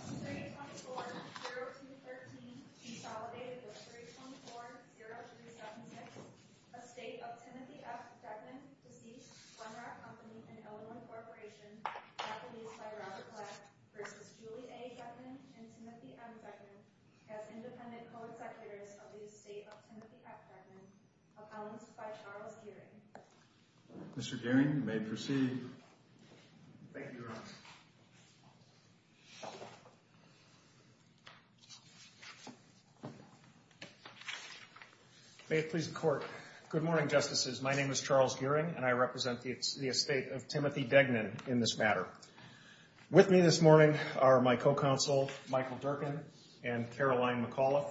324-0213 consolidated with 324-0376, a state of Timothy F. Degnan, deceased, Wenrock Company and Elderwood Corporation, Japanese by Roger Platt, versus Julie A. Degnan and Timothy M. Degnan, as independent co-executives of the state of Timothy F. Degnan, announced by Charles Gearing. Mr. Gearing, you may proceed. Thank you, Your Honor. May it please the Court. Good morning, Justices. My name is Charles Gearing, and I represent the estate of Timothy Degnan in this matter. With me this morning are my co-counsel, Michael Durkin, and Caroline McAuliffe.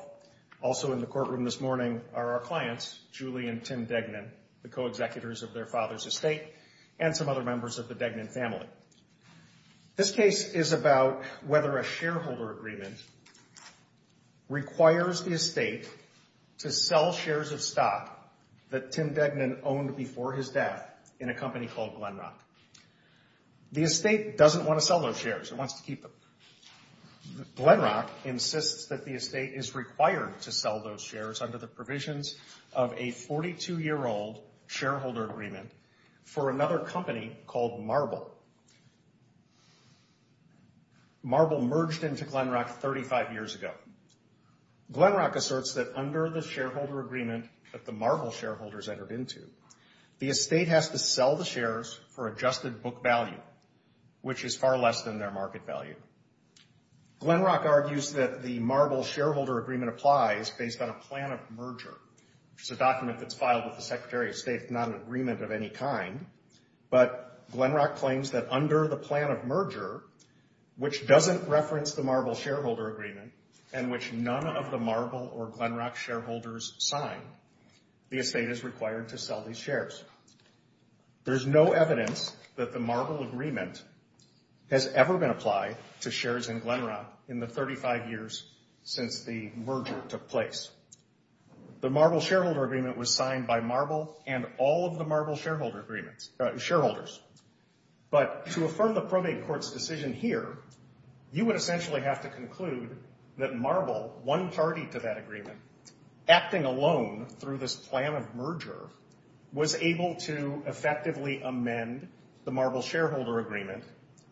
Also in the courtroom this morning are our clients, Julie and Tim Degnan, the co-executives of their father's estate, and some other members of the Degnan family. This case is about whether a shareholder agreement requires the estate to sell shares of stock that Tim Degnan owned before his death in a company called Glenrock. The estate doesn't want to sell those shares. It wants to keep them. Glenrock insists that the estate is required to sell those shares under the provisions of a 42-year-old shareholder agreement for another company called Marble. Marble merged into Glenrock 35 years ago. Glenrock asserts that under the shareholder agreement that the Marble shareholders entered into, the estate has to sell the shares for adjusted book value, which is far less than their market value. Glenrock argues that the Marble shareholder agreement applies based on a plan of merger. It's a document that's filed with the Secretary of State. It's not an agreement of any kind. But Glenrock claims that under the plan of merger, which doesn't reference the Marble shareholder agreement, and which none of the Marble or Glenrock shareholders sign, the estate is required to sell these shares. There's no evidence that the Marble agreement has ever been applied to shares in Glenrock in the 35 years since the merger took place. The Marble shareholder agreement was signed by Marble and all of the Marble shareholders. But to affirm the probate court's decision here, you would essentially have to conclude that Marble, one party to that agreement, acting alone through this plan of merger, was able to effectively amend the Marble shareholder agreement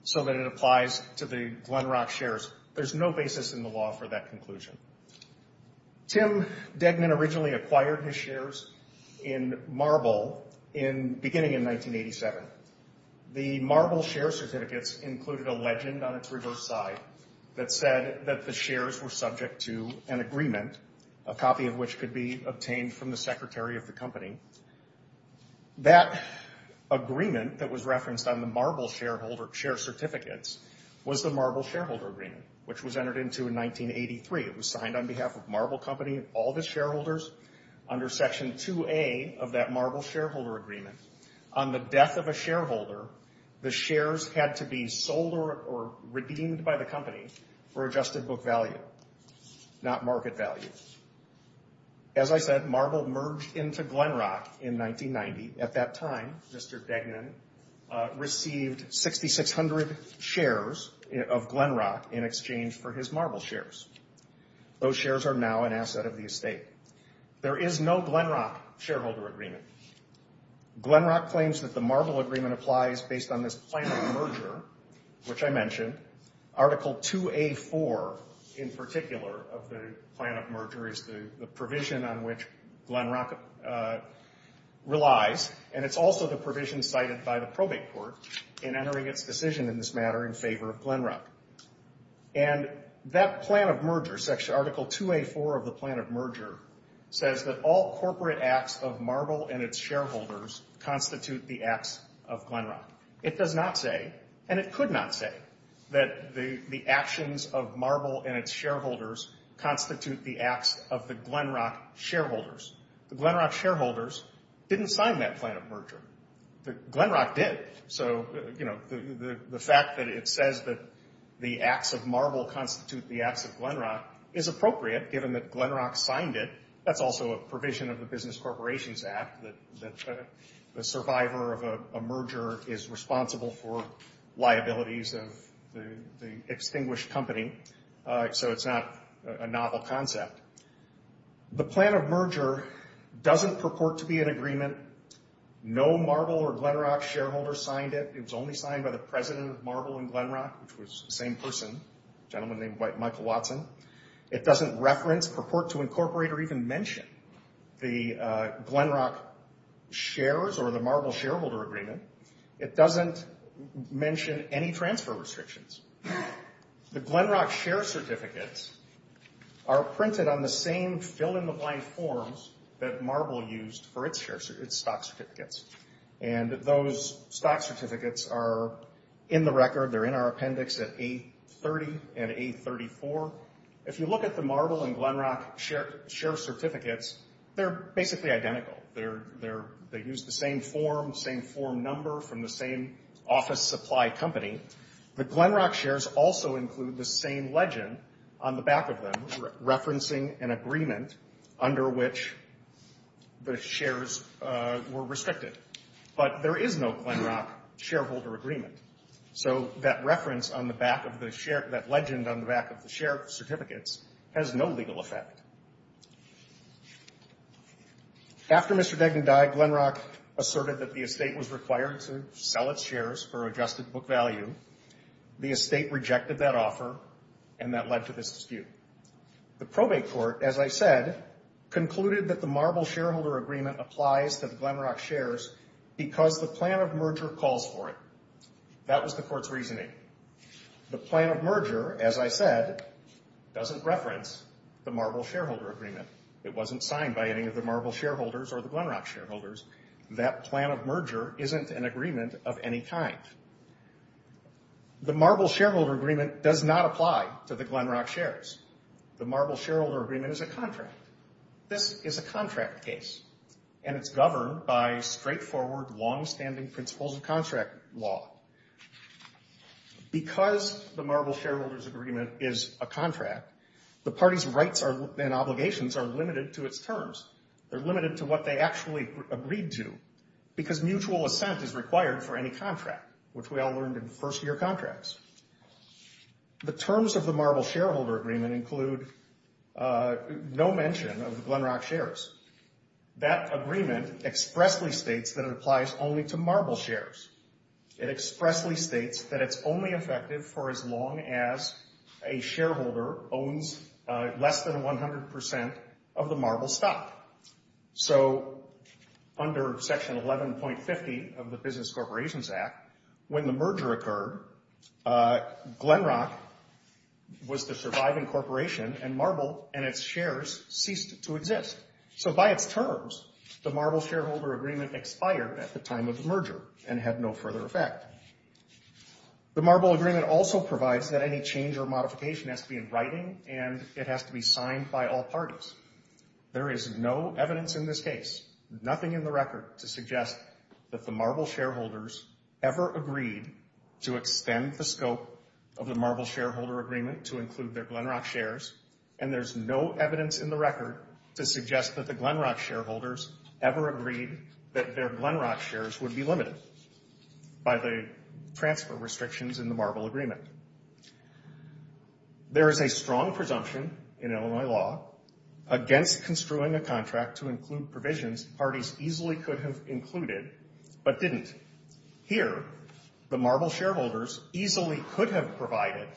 so that it applies to the Glenrock shares. There's no basis in the law for that conclusion. Tim Degnan originally acquired his shares in Marble beginning in 1987. The Marble share certificates included a legend on its reverse side that said that the shares were subject to an agreement, a copy of which could be obtained from the Secretary of the company. That agreement that was referenced on the Marble share certificates was the Marble shareholder agreement, which was entered into in 1983. It was signed on behalf of Marble Company and all the shareholders under Section 2A of that Marble shareholder agreement. On the death of a shareholder, the shares had to be sold or redeemed by the company for adjusted book value, not market value. As I said, Marble merged into Glenrock in 1990. At that time, Mr. Degnan received 6,600 shares of Glenrock in exchange for his Marble shares. Those shares are now an asset of the estate. There is no Glenrock shareholder agreement. Glenrock claims that the Marble agreement applies based on this plan of merger, which I mentioned. Article 2A4, in particular, of the plan of merger is the provision on which Glenrock relies. And it's also the provision cited by the probate court in entering its decision in this matter in favor of Glenrock. And that plan of merger, Article 2A4 of the plan of merger, says that all corporate acts of Marble and its shareholders constitute the acts of Glenrock. It does not say, and it could not say, that the actions of Marble and its shareholders constitute the acts of the Glenrock shareholders. The Glenrock shareholders didn't sign that plan of merger. Glenrock did. So, you know, the fact that it says that the acts of Marble constitute the acts of Glenrock is appropriate, given that Glenrock signed it. That's also a provision of the Business Corporations Act, that the survivor of a merger is responsible for liabilities of the extinguished company. So it's not a novel concept. The plan of merger doesn't purport to be an agreement. No Marble or Glenrock shareholder signed it. It was only signed by the president of Marble and Glenrock, which was the same person, a gentleman named Michael Watson. It doesn't reference, purport to incorporate, or even mention the Glenrock shares or the Marble shareholder agreement. It doesn't mention any transfer restrictions. The Glenrock share certificates are printed on the same fill-in-the-blank forms that Marble used for its stock certificates. And those stock certificates are in the record. They're in our appendix at A30 and A34. If you look at the Marble and Glenrock share certificates, they're basically identical. They use the same form, same form number from the same office supply company. The Glenrock shares also include the same legend on the back of them, referencing an agreement under which the shares were restricted. But there is no Glenrock shareholder agreement. So that reference on the back of the share, that legend on the back of the share certificates has no legal effect. After Mr. Degnan died, Glenrock asserted that the estate was required to sell its shares for adjusted book value. The estate rejected that offer, and that led to this dispute. The probate court, as I said, concluded that the Marble shareholder agreement applies to the Glenrock shares because the plan of merger calls for it. That was the court's reasoning. The plan of merger, as I said, doesn't reference the Marble shareholder agreement. It wasn't signed by any of the Marble shareholders or the Glenrock shareholders. That plan of merger isn't an agreement of any kind. The Marble shareholder agreement does not apply to the Glenrock shares. The Marble shareholder agreement is a contract. This is a contract case, and it's governed by straightforward, longstanding principles of contract law. Because the Marble shareholders agreement is a contract, the party's rights and obligations are limited to its terms. They're limited to what they actually agreed to because mutual assent is required for any contract, which we all learned in first-year contracts. The terms of the Marble shareholder agreement include no mention of the Glenrock shares. That agreement expressly states that it applies only to Marble shares. It expressly states that it's only effective for as long as a shareholder owns less than 100% of the Marble stock. So under Section 11.50 of the Business Corporations Act, when the merger occurred, Glenrock was the surviving corporation, and Marble and its shares ceased to exist. So by its terms, the Marble shareholder agreement expired at the time of the merger and had no further effect. The Marble agreement also provides that any change or modification has to be in writing, and it has to be signed by all parties. There is no evidence in this case, nothing in the record, to suggest that the Marble shareholders ever agreed to extend the scope of the Marble shareholder agreement to include their Glenrock shares. And there's no evidence in the record to suggest that the Glenrock shareholders ever agreed that their Glenrock shares would be limited by the transfer restrictions in the Marble agreement. There is a strong presumption in Illinois law against construing a contract to include provisions parties easily could have included but didn't. Here, the Marble shareholders easily could have provided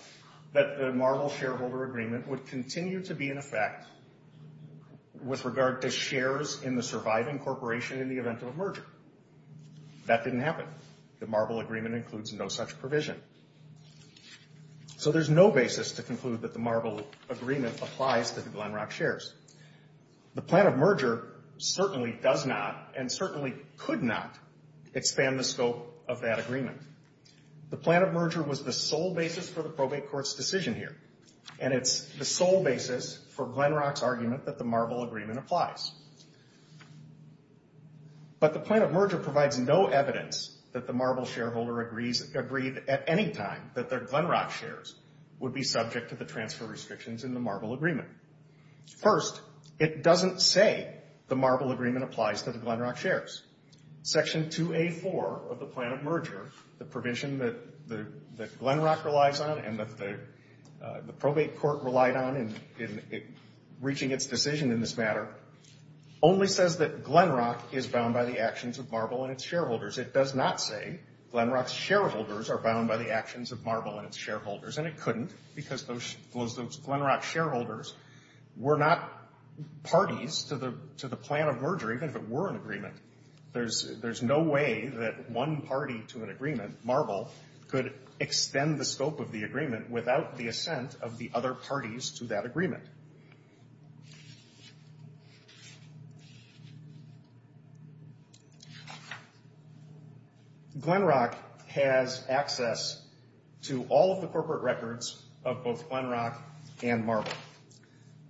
that the Marble shareholder agreement would continue to be in effect with regard to shares in the surviving corporation in the event of a merger. That didn't happen. The Marble agreement includes no such provision. So there's no basis to conclude that the Marble agreement applies to the Glenrock shares. The plan of merger certainly does not and certainly could not expand the scope of that agreement. The plan of merger was the sole basis for the probate court's decision here, and it's the sole basis for Glenrock's argument that the Marble agreement applies. But the plan of merger provides no evidence that the Marble shareholder agreed at any time that their Glenrock shares would be subject to the transfer restrictions in the Marble agreement. First, it doesn't say the Marble agreement applies to the Glenrock shares. Section 2A.4 of the plan of merger, the provision that Glenrock relies on and that the probate court relied on in reaching its decision in this matter, only says that Glenrock is bound by the actions of Marble and its shareholders. It does not say Glenrock's shareholders are bound by the actions of Marble and its shareholders, and it couldn't because those Glenrock shareholders were not parties to the plan of merger, even if it were an agreement. There's no way that one party to an agreement, Marble, could extend the scope of the agreement without the assent of the other parties to that agreement. Glenrock has access to all of the corporate records of both Glenrock and Marble,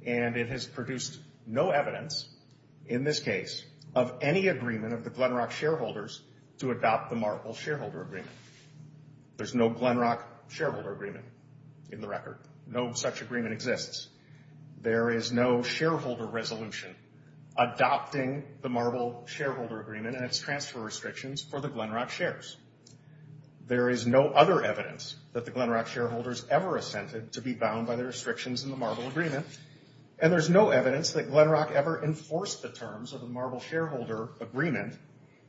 and it has produced no evidence, in this case, of any agreement of the Glenrock shareholders to adopt the Marble shareholder agreement. There's no Glenrock shareholder agreement in the record. No such agreement exists. There is no shareholder resolution adopting the Marble shareholder agreement and its transfer restrictions for the Glenrock shares. There is no other evidence that the Glenrock shareholders ever assented to be bound by the restrictions in the Marble agreement, and there's no evidence that Glenrock ever enforced the terms of the Marble shareholder agreement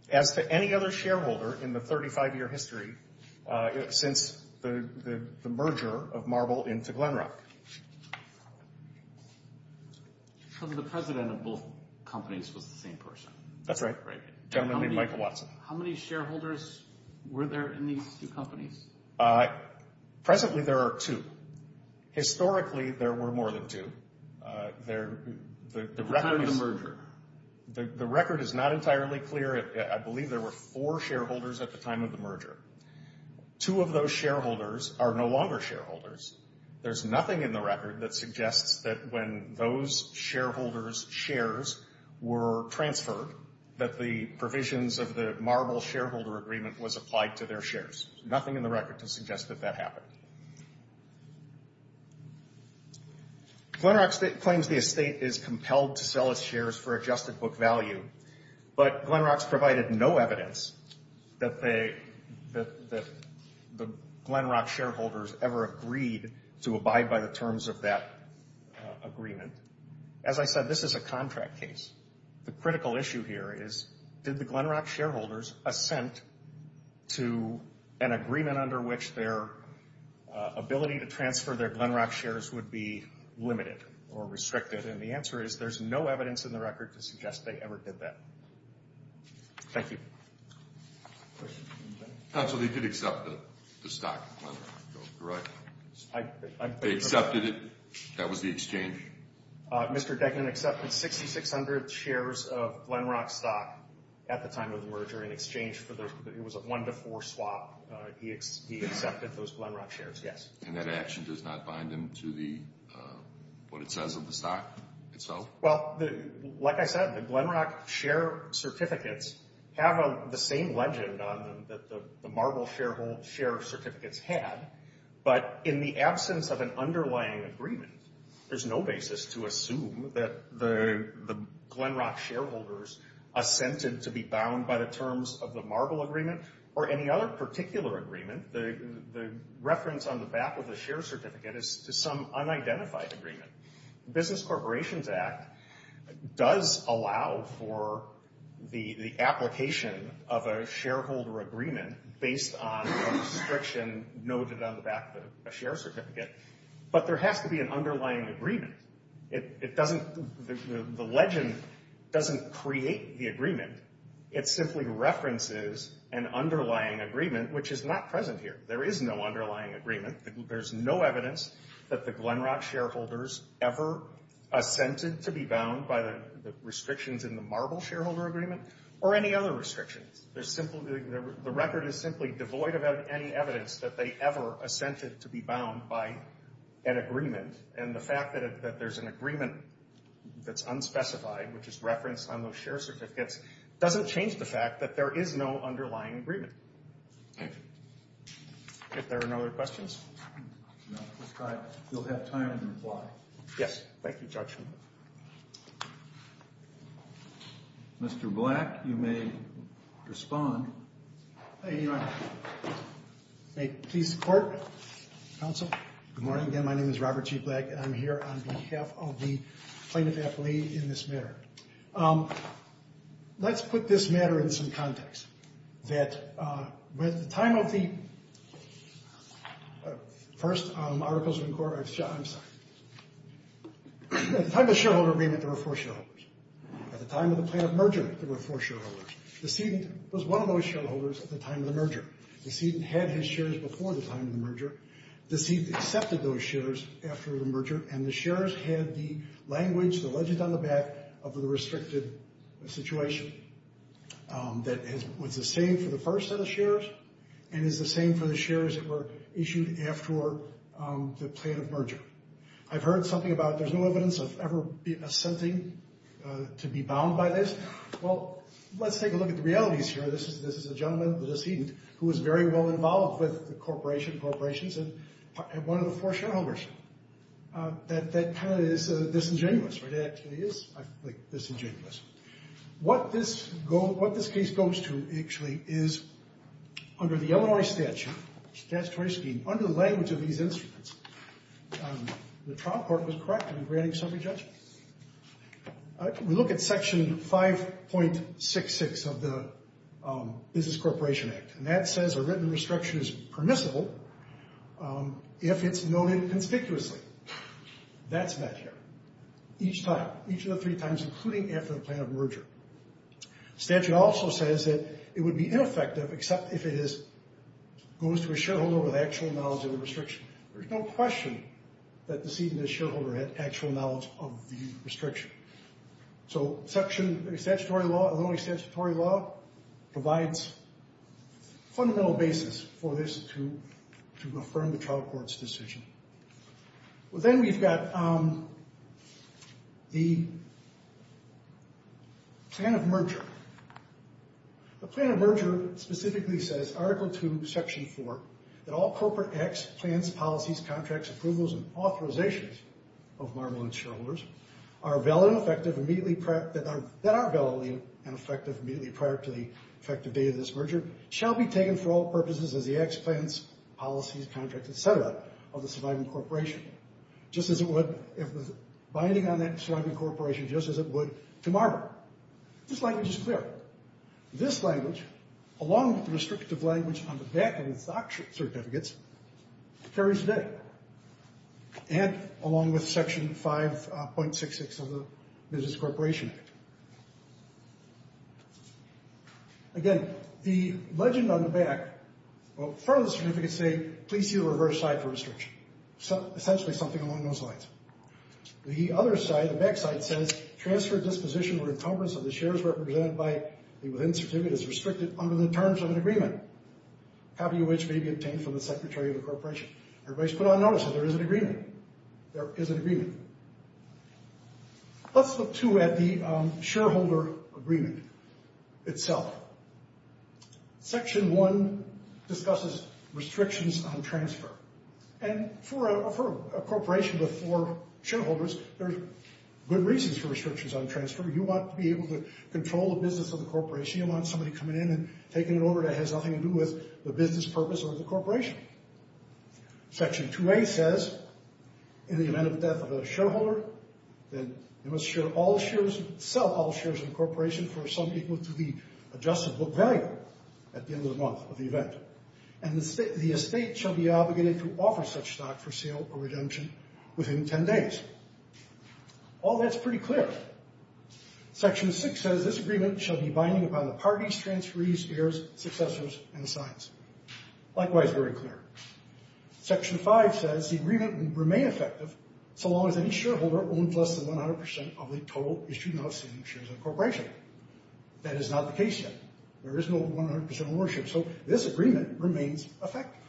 as to any other shareholder in the 35-year history since the merger of Marble into Glenrock. So the president of both companies was the same person? That's right. Right. Gentleman named Michael Watson. How many shareholders were there in these two companies? Presently, there are two. Historically, there were more than two. The time of the merger? The record is not entirely clear. I believe there were four shareholders at the time of the merger. Two of those shareholders are no longer shareholders. There's nothing in the record that suggests that when those shareholders' shares were transferred, that the provisions of the Marble shareholder agreement was applied to their shares. There's nothing in the record to suggest that that happened. Glenrock claims the estate is compelled to sell its shares for adjusted book value, but Glenrock's provided no evidence that the Glenrock shareholders ever agreed to abide by the terms of that agreement. As I said, this is a contract case. The critical issue here is did the Glenrock shareholders assent to an agreement under which their ability to transfer their Glenrock shares would be limited or restricted? And the answer is there's no evidence in the record to suggest they ever did that. Thank you. Counsel, they did accept the stock of Glenrock, correct? They accepted it? That was the exchange? The exchange. Mr. Degnan accepted 6,600 shares of Glenrock stock at the time of the merger in exchange for those. It was a one-to-four swap. He accepted those Glenrock shares, yes. And that action does not bind him to what it says of the stock itself? Well, like I said, the Glenrock share certificates have the same legend on them that the Marble share certificates had, but in the absence of an underlying agreement, there's no basis to assume that the Glenrock shareholders assented to be bound by the terms of the Marble agreement or any other particular agreement. The reference on the back of the share certificate is to some unidentified agreement. The Business Corporations Act does allow for the application of a shareholder agreement based on a restriction noted on the back of a share certificate, but there has to be an underlying agreement. The legend doesn't create the agreement. It simply references an underlying agreement, which is not present here. There is no underlying agreement. There's no evidence that the Glenrock shareholders ever assented to be bound by the restrictions in the Marble shareholder agreement or any other restrictions. The record is simply devoid of any evidence that they ever assented to be bound by an agreement, and the fact that there's an agreement that's unspecified, which is referenced on those share certificates, doesn't change the fact that there is no underlying agreement. Thank you. If there are no other questions? No. You'll have time to reply. Yes. Thank you, Judge. Mr. Black, you may respond. Thank you, Your Honor. May it please the Court, Counsel. Good morning again. My name is Robert G. Black, and I'm here on behalf of the plaintiff-athlete in this matter. Let's put this matter in some context. At the time of the first Articles of Inquiry, I'm sorry. At the time of the shareholder agreement, there were four shareholders. At the time of the plaintiff merger, there were four shareholders. Decedent was one of those shareholders at the time of the merger. Decedent had his shares before the time of the merger. Decedent accepted those shares after the merger, and the shares had the language, the legend on the back of the restricted situation that was the same for the first set of shares and is the same for the shares that were issued after the plaintiff merger. I've heard something about there's no evidence of ever assenting to be bound by this. Well, let's take a look at the realities here. This is a gentleman, the decedent, who was very well involved with the corporation, corporations, and one of the four shareholders. That kind of is disingenuous. It actually is disingenuous. What this case goes to, actually, is under the Illinois statute, statutory scheme, under the language of these instruments, the trial court was correct in granting summary judgment. We look at Section 5.66 of the Business Corporation Act, and that says a written restriction is permissible if it's noted conspicuously. That's met here each time, each of the three times, including after the plaintiff merger. Statute also says that it would be ineffective except if it goes to a shareholder with actual knowledge of the restriction. There's no question that decedent and shareholder had actual knowledge of the restriction. So Illinois statutory law provides a fundamental basis for this to affirm the trial court's decision. Then we've got the plaintiff merger. The plaintiff merger specifically says, Article 2, Section 4, that all corporate acts, plans, policies, contracts, approvals, and authorizations of Marble and shareholders that are valid and effective immediately prior to the effective date of this merger shall be taken for all purposes as the acts, plans, policies, contracts, etc. of the surviving corporation, just as it would if the binding on that surviving corporation, just as it would to Marble. This language is clear. This language, along with the restrictive language on the back of the SOC certificates, carries today. And along with Section 5.66 of the Business Corporation Act. Again, the legend on the back, well, front of the certificates say, please see the reverse side for restriction. Essentially something along those lines. The other side, the back side says, transfer disposition or encumbrance of the shares represented by the within certificate is restricted under the terms of an agreement, half of which may be obtained from the Secretary of the Corporation. Everybody's put on notice that there is an agreement. There is an agreement. Let's look, too, at the shareholder agreement itself. Section 1 discusses restrictions on transfer. And for a corporation with four shareholders, there's good reasons for restrictions on transfer. You want to be able to control the business of the corporation. You don't want somebody coming in and taking an order that has nothing to do with the business purpose or the corporation. Section 2A says, in the event of death of a shareholder, then you must sell all shares of the corporation for some equal to the adjusted book value at the end of the month of the event. And the estate shall be obligated to offer such stock for sale or redemption within 10 days. All that's pretty clear. Section 6 says, this agreement shall be binding upon the parties, transferees, heirs, successors, and signs. Likewise, very clear. Section 5 says, the agreement will remain effective so long as any shareholder owns less than 100% of the total issued and outstanding shares of the corporation. That is not the case yet. There is no 100% ownership, so this agreement remains effective.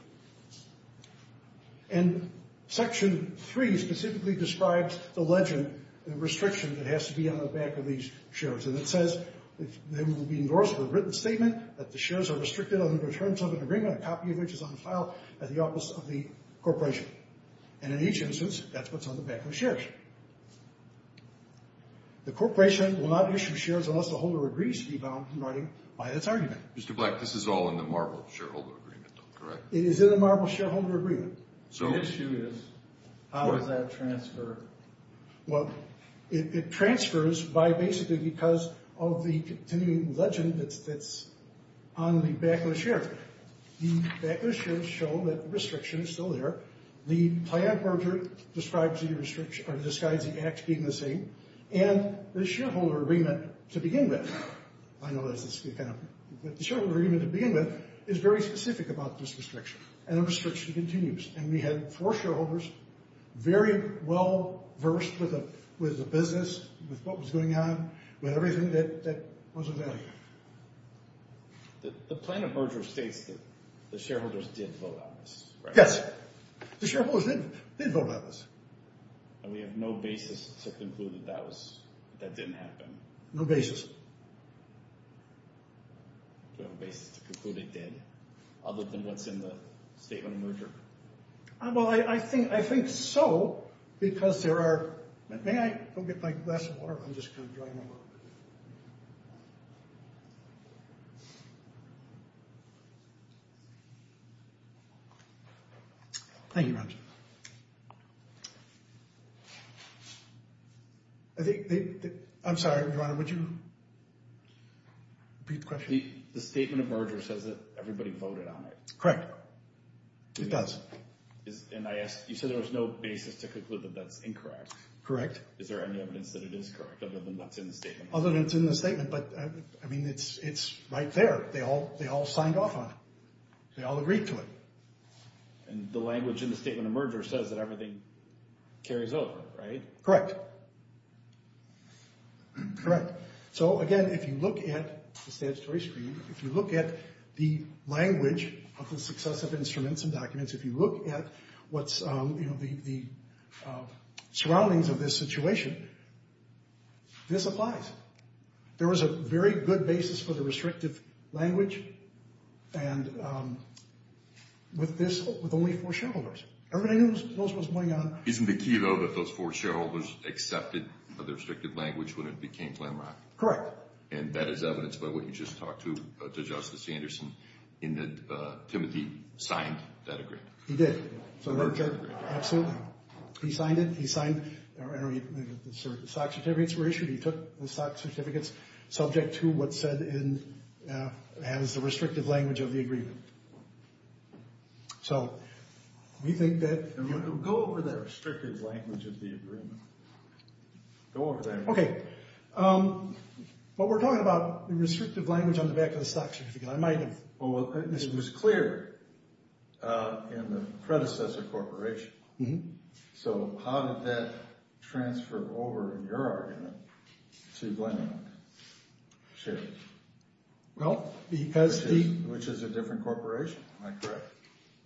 And Section 3 specifically describes the legend, the restriction that has to be on the back of these shares. And it says, they will be endorsed with a written statement that the shares are restricted on the returns of an agreement, a copy of which is on file at the office of the corporation. And in each instance, that's what's on the back of the shares. The corporation will not issue shares unless the holder agrees to be bound in writing by its argument. Mr. Black, this is all in the Marble Shareholder Agreement, though, correct? It is in the Marble Shareholder Agreement. The issue is, how does that transfer? Well, it transfers by basically because of the continuing legend that's on the back of the shares. The back of the shares show that the restriction is still there. The client merger describes the act being the same. And the shareholder agreement to begin with, I know this is kind of, but the shareholder agreement to begin with is very specific about this restriction. And the restriction continues. And we had four shareholders, very well-versed with the business, with what was going on, with everything that was available. The plan of merger states that the shareholders did vote on this, right? Yes. The shareholders did vote on this. And we have no basis to conclude that that didn't happen? No basis. No basis to conclude it did, other than what's in the statement of merger? Well, I think so, because there are... May I go get my glass of water? I'm just kind of drying my mouth. Thank you, Roger. I think they... I'm sorry, Roger, would you repeat the question? The statement of merger says that everybody voted on it. Correct. It does. And I asked, you said there was no basis to conclude that that's incorrect? Correct. Is there any evidence that it is correct, other than what's in the statement? Other than what's in the statement, but I mean, it's right there. They all signed off on it. They all agreed to it. And the language in the statement of merger says that everything carries over, right? Correct. Correct. So, again, if you look at the statutory screen, if you look at the language of the successive instruments and documents, if you look at what's, you know, the surroundings of this situation, this applies. There was a very good basis for the restrictive language, and with this, with only four shareholders. Everybody knows what's going on. Isn't the key, though, that those four shareholders accepted the restrictive language when it became landmark? Correct. And that is evidence by what you just talked to, to Justice Anderson, in that Timothy signed that agreement. He did. The merger agreement. Absolutely. He signed it. He signed. The SOC certificates were issued. He took the SOC certificates subject to what's said in, as the restrictive language of the agreement. So, we think that... Go over the restrictive language of the agreement. Go over that. Okay. But we're talking about the restrictive language on the back of the SOC certificate. I might have... Well, it was clear in the predecessor corporation. So, how did that transfer over, in your argument, to Blenheim Shares? Well, because the... Which is a different corporation, am I correct?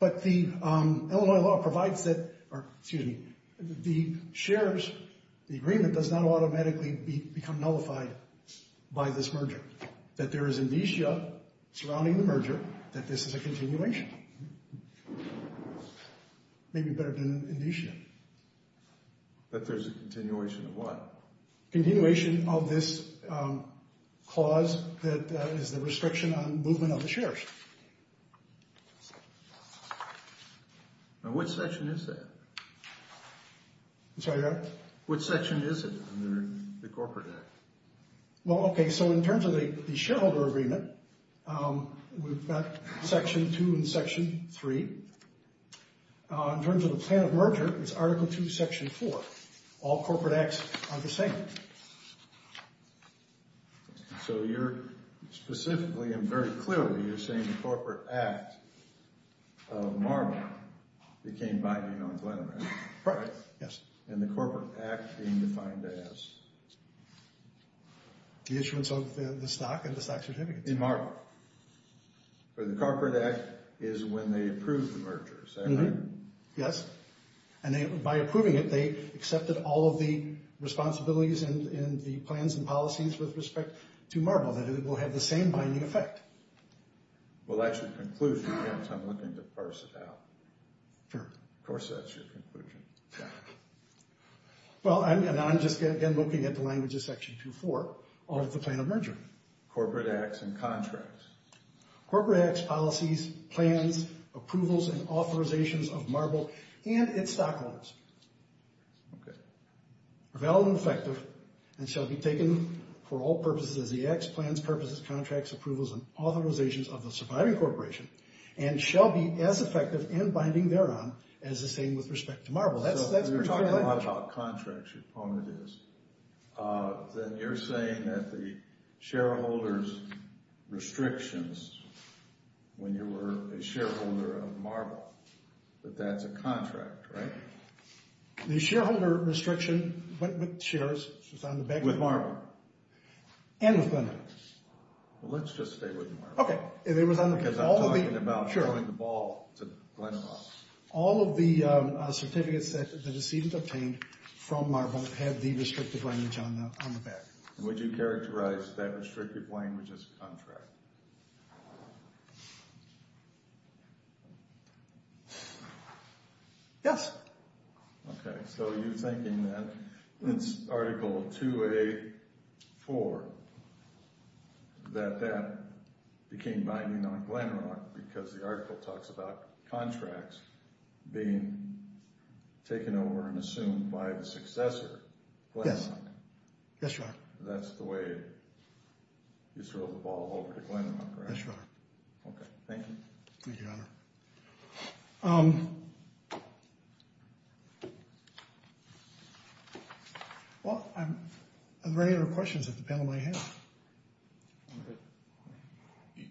But the Illinois law provides that... Excuse me. The shares, the agreement does not automatically become nullified by this merger. That there is amnesia surrounding the merger that this is a continuation. Maybe better than amnesia. That there's a continuation of what? Continuation of this clause that is the restriction on movement of the shares. Now, which section is that? I'm sorry, go ahead. Which section is it under the corporate act? Well, okay. So, in terms of the shareholder agreement, we've got Section 2 and Section 3. In terms of the plan of merger, it's Article 2, Section 4. All corporate acts are the same. So, you're specifically and very clearly, you're saying the corporate act of Marble became binding on Blenheim, right? Right, yes. And the corporate act being defined as? The issuance of the stock and the stock certificate. In Marble. Where the corporate act is when they approve the merger, is that right? Yes. And by approving it, they accepted all of the responsibilities and the plans and policies with respect to Marble, that it will have the same binding effect. Well, that's your conclusion, because I'm looking to parse it out. Sure. Of course, that's your conclusion. Well, and I'm just, again, looking at the language of Section 2.4 of the plan of merger. Corporate acts and contracts. Corporate acts, policies, plans, approvals, and authorizations of Marble and its stockholders are valid and effective and shall be taken for all purposes as the acts, plans, purposes, contracts, approvals, and authorizations of the surviving corporation and shall be as effective and binding thereon as the same with respect to Marble. So, you're talking a lot about contracts, your point is. Then you're saying that the shareholders' restrictions when you were a shareholder of Marble, that that's a contract, right? The shareholder restriction went with shares. It was on the back of Marble. And with Glenn and I. Well, let's just stay with Marble. Okay. Because I'm talking about throwing the ball to Glenn and I. All of the certificates that the decedent obtained from Marble had the restrictive language on the back. Would you characterize that restrictive language as a contract? Yes. Okay. So, you're thinking that it's Article 2A.4 that that became binding on Glenrock because the article talks about contracts being taken over and assumed by the successor, Glenn. Yes. Yes, Your Honor. That's the way you throw the ball over to Glenn and I, correct? Yes, Your Honor. Okay. Thank you. Thank you, Your Honor. Well, are there any other questions that the panel may have?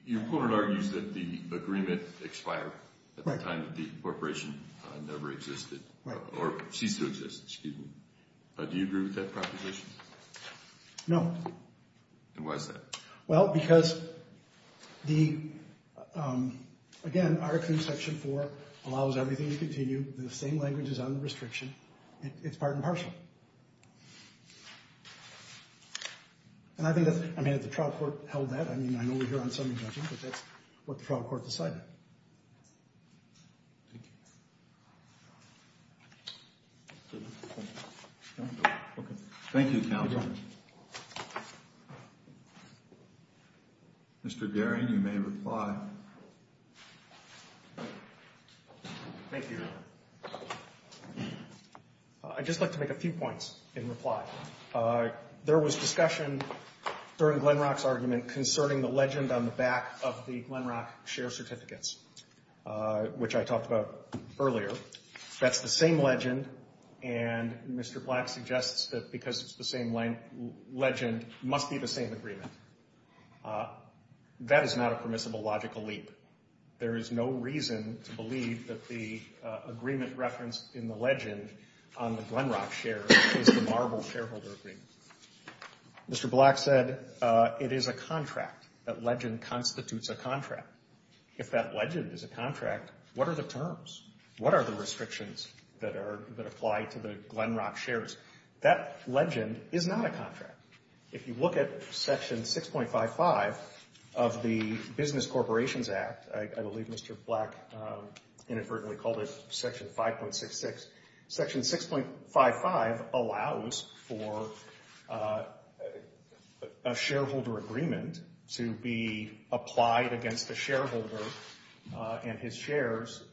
Your opponent argues that the agreement expired at the time that the corporation never existed. Right. Or ceased to exist, excuse me. Do you agree with that proposition? No. Then why is that? Well, because the, again, Article 2, Section 4 allows everything to continue. The same language is on the restriction. It's part and parcel. And I think that, I mean, if the trial court held that, I mean, I know we're here on Sunday judging, but that's what the trial court decided. Thank you. Thank you. Okay. Thank you, counsel. Mr. Guerin, you may reply. Thank you, Your Honor. I'd just like to make a few points in reply. There was discussion during Glenrock's argument concerning the legend on the back of the Glenrock share certificates, which I talked about earlier. That's the same legend, and Mr. Black suggests that because it's the same legend, it must be the same agreement. That is not a permissible logical leap. There is no reason to believe that the agreement referenced in the legend on the Glenrock share is the Marble shareholder agreement. Mr. Black said it is a contract. That legend constitutes a contract. If that legend is a contract, what are the terms? What are the restrictions that apply to the Glenrock shares? That legend is not a contract. If you look at Section 6.55 of the Business Corporations Act, I believe Mr. Black inadvertently called it Section 5.66, Section 6.55 allows for a shareholder agreement to be applied against the shareholder and his shares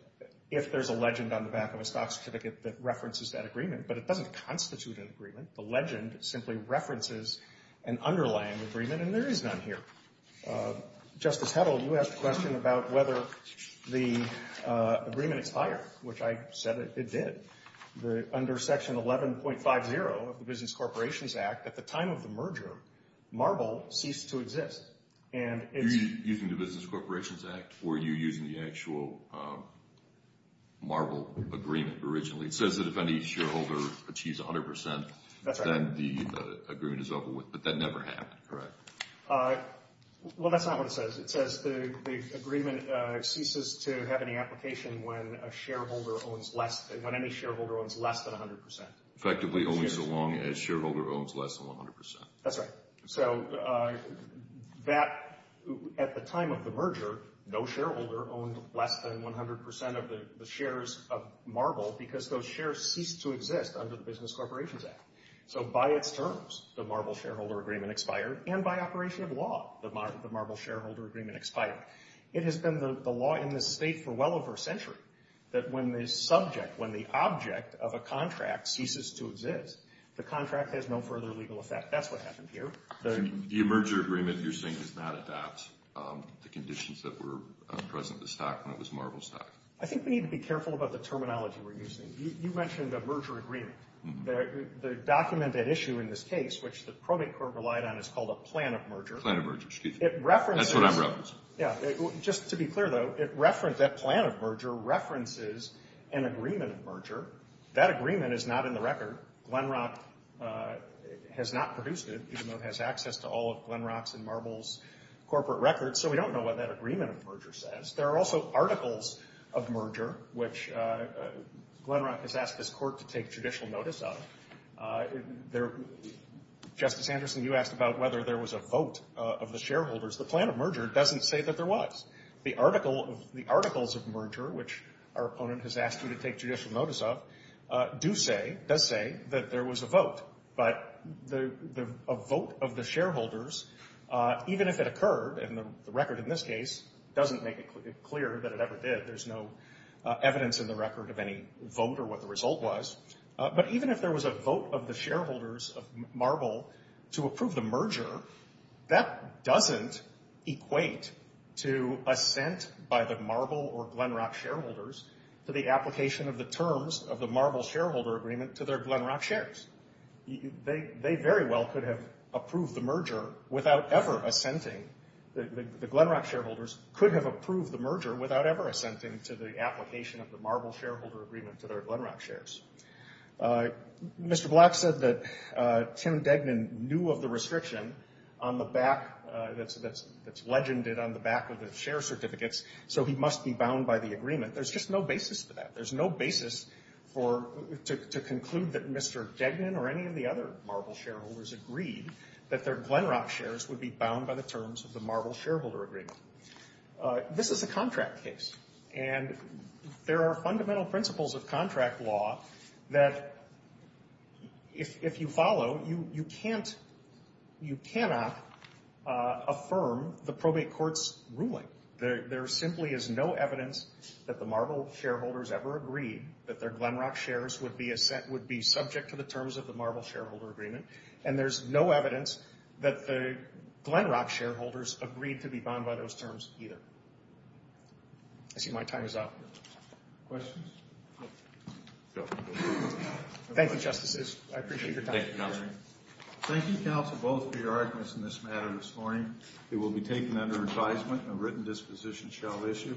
if there's a legend on the back of a stock certificate that references that agreement, but it doesn't constitute an agreement. The legend simply references an underlying agreement, and there is none here. Justice Heddle, you asked a question about whether the agreement expired, which I said it did. Under Section 11.50 of the Business Corporations Act, at the time of the merger, Marble ceased to exist. You're using the Business Corporations Act, or are you using the actual Marble agreement originally? It says that if any shareholder achieves 100%, then the agreement is over with, but that never happened, correct? Well, that's not what it says. It says the agreement ceases to have any application when any shareholder owns less than 100%. Effectively, only so long as shareholder owns less than 100%. That's right. So at the time of the merger, no shareholder owned less than 100% of the shares of Marble because those shares ceased to exist under the Business Corporations Act. So by its terms, the Marble shareholder agreement expired, and by operation of law, the Marble shareholder agreement expired. It has been the law in this state for well over a century that when the subject, when the object of a contract ceases to exist, the contract has no further legal effect. That's what happened here. The merger agreement you're saying does not adapt the conditions that were present in the stock when it was Marble stock? I think we need to be careful about the terminology we're using. You mentioned a merger agreement. The document at issue in this case, which the Promate Court relied on, is called a plan of merger. Plan of merger, excuse me. It references... That's what I'm referencing. Yeah, just to be clear, though, that plan of merger references an agreement of merger. That agreement is not in the record. Glenrock has not produced it, even though it has access to all of Glenrock's and Marble's corporate records, so we don't know what that agreement of merger says. There are also articles of merger, which Glenrock has asked this court to take judicial notice of. Justice Anderson, you asked about whether there was a vote of the shareholders. The plan of merger doesn't say that there was. The articles of merger, which our opponent has asked you to take judicial notice of, does say that there was a vote, but a vote of the shareholders, even if it occurred, and the record in this case doesn't make it clear that it ever did. There's no evidence in the record of any vote or what the result was. But even if there was a vote of the shareholders of Marble to approve the merger, that doesn't equate to assent by the Marble or Glenrock shareholders to the application of the terms of the Marble shareholder agreement to their Glenrock shares. They very well could have approved the merger without ever assenting. The Glenrock shareholders could have approved the merger without ever assenting to the application of the Marble shareholder agreement to their Glenrock shares. Mr. Black said that Tim Degnan knew of the restriction that's legended on the back of the share certificates, so he must be bound by the agreement. There's just no basis for that. There's no basis to conclude that Mr. Degnan or any of the other Marble shareholders agreed that their Glenrock shares would be bound by the terms of the Marble shareholder agreement. This is a contract case, and there are fundamental principles of contract law that if you follow, you cannot affirm the probate court's ruling. There simply is no evidence that the Marble shareholders ever agreed that their Glenrock shares would be subject to the terms of the Marble shareholder agreement, and there's no evidence that the Glenrock shareholders agreed to be bound by those terms either. I see my time is up. Questions? Thank you, Justices. I appreciate your time. Thank you, Counsel. Thank you, Counsel, both, for your arguments in this matter this morning. It will be taken under advisement and a written disposition shall issue.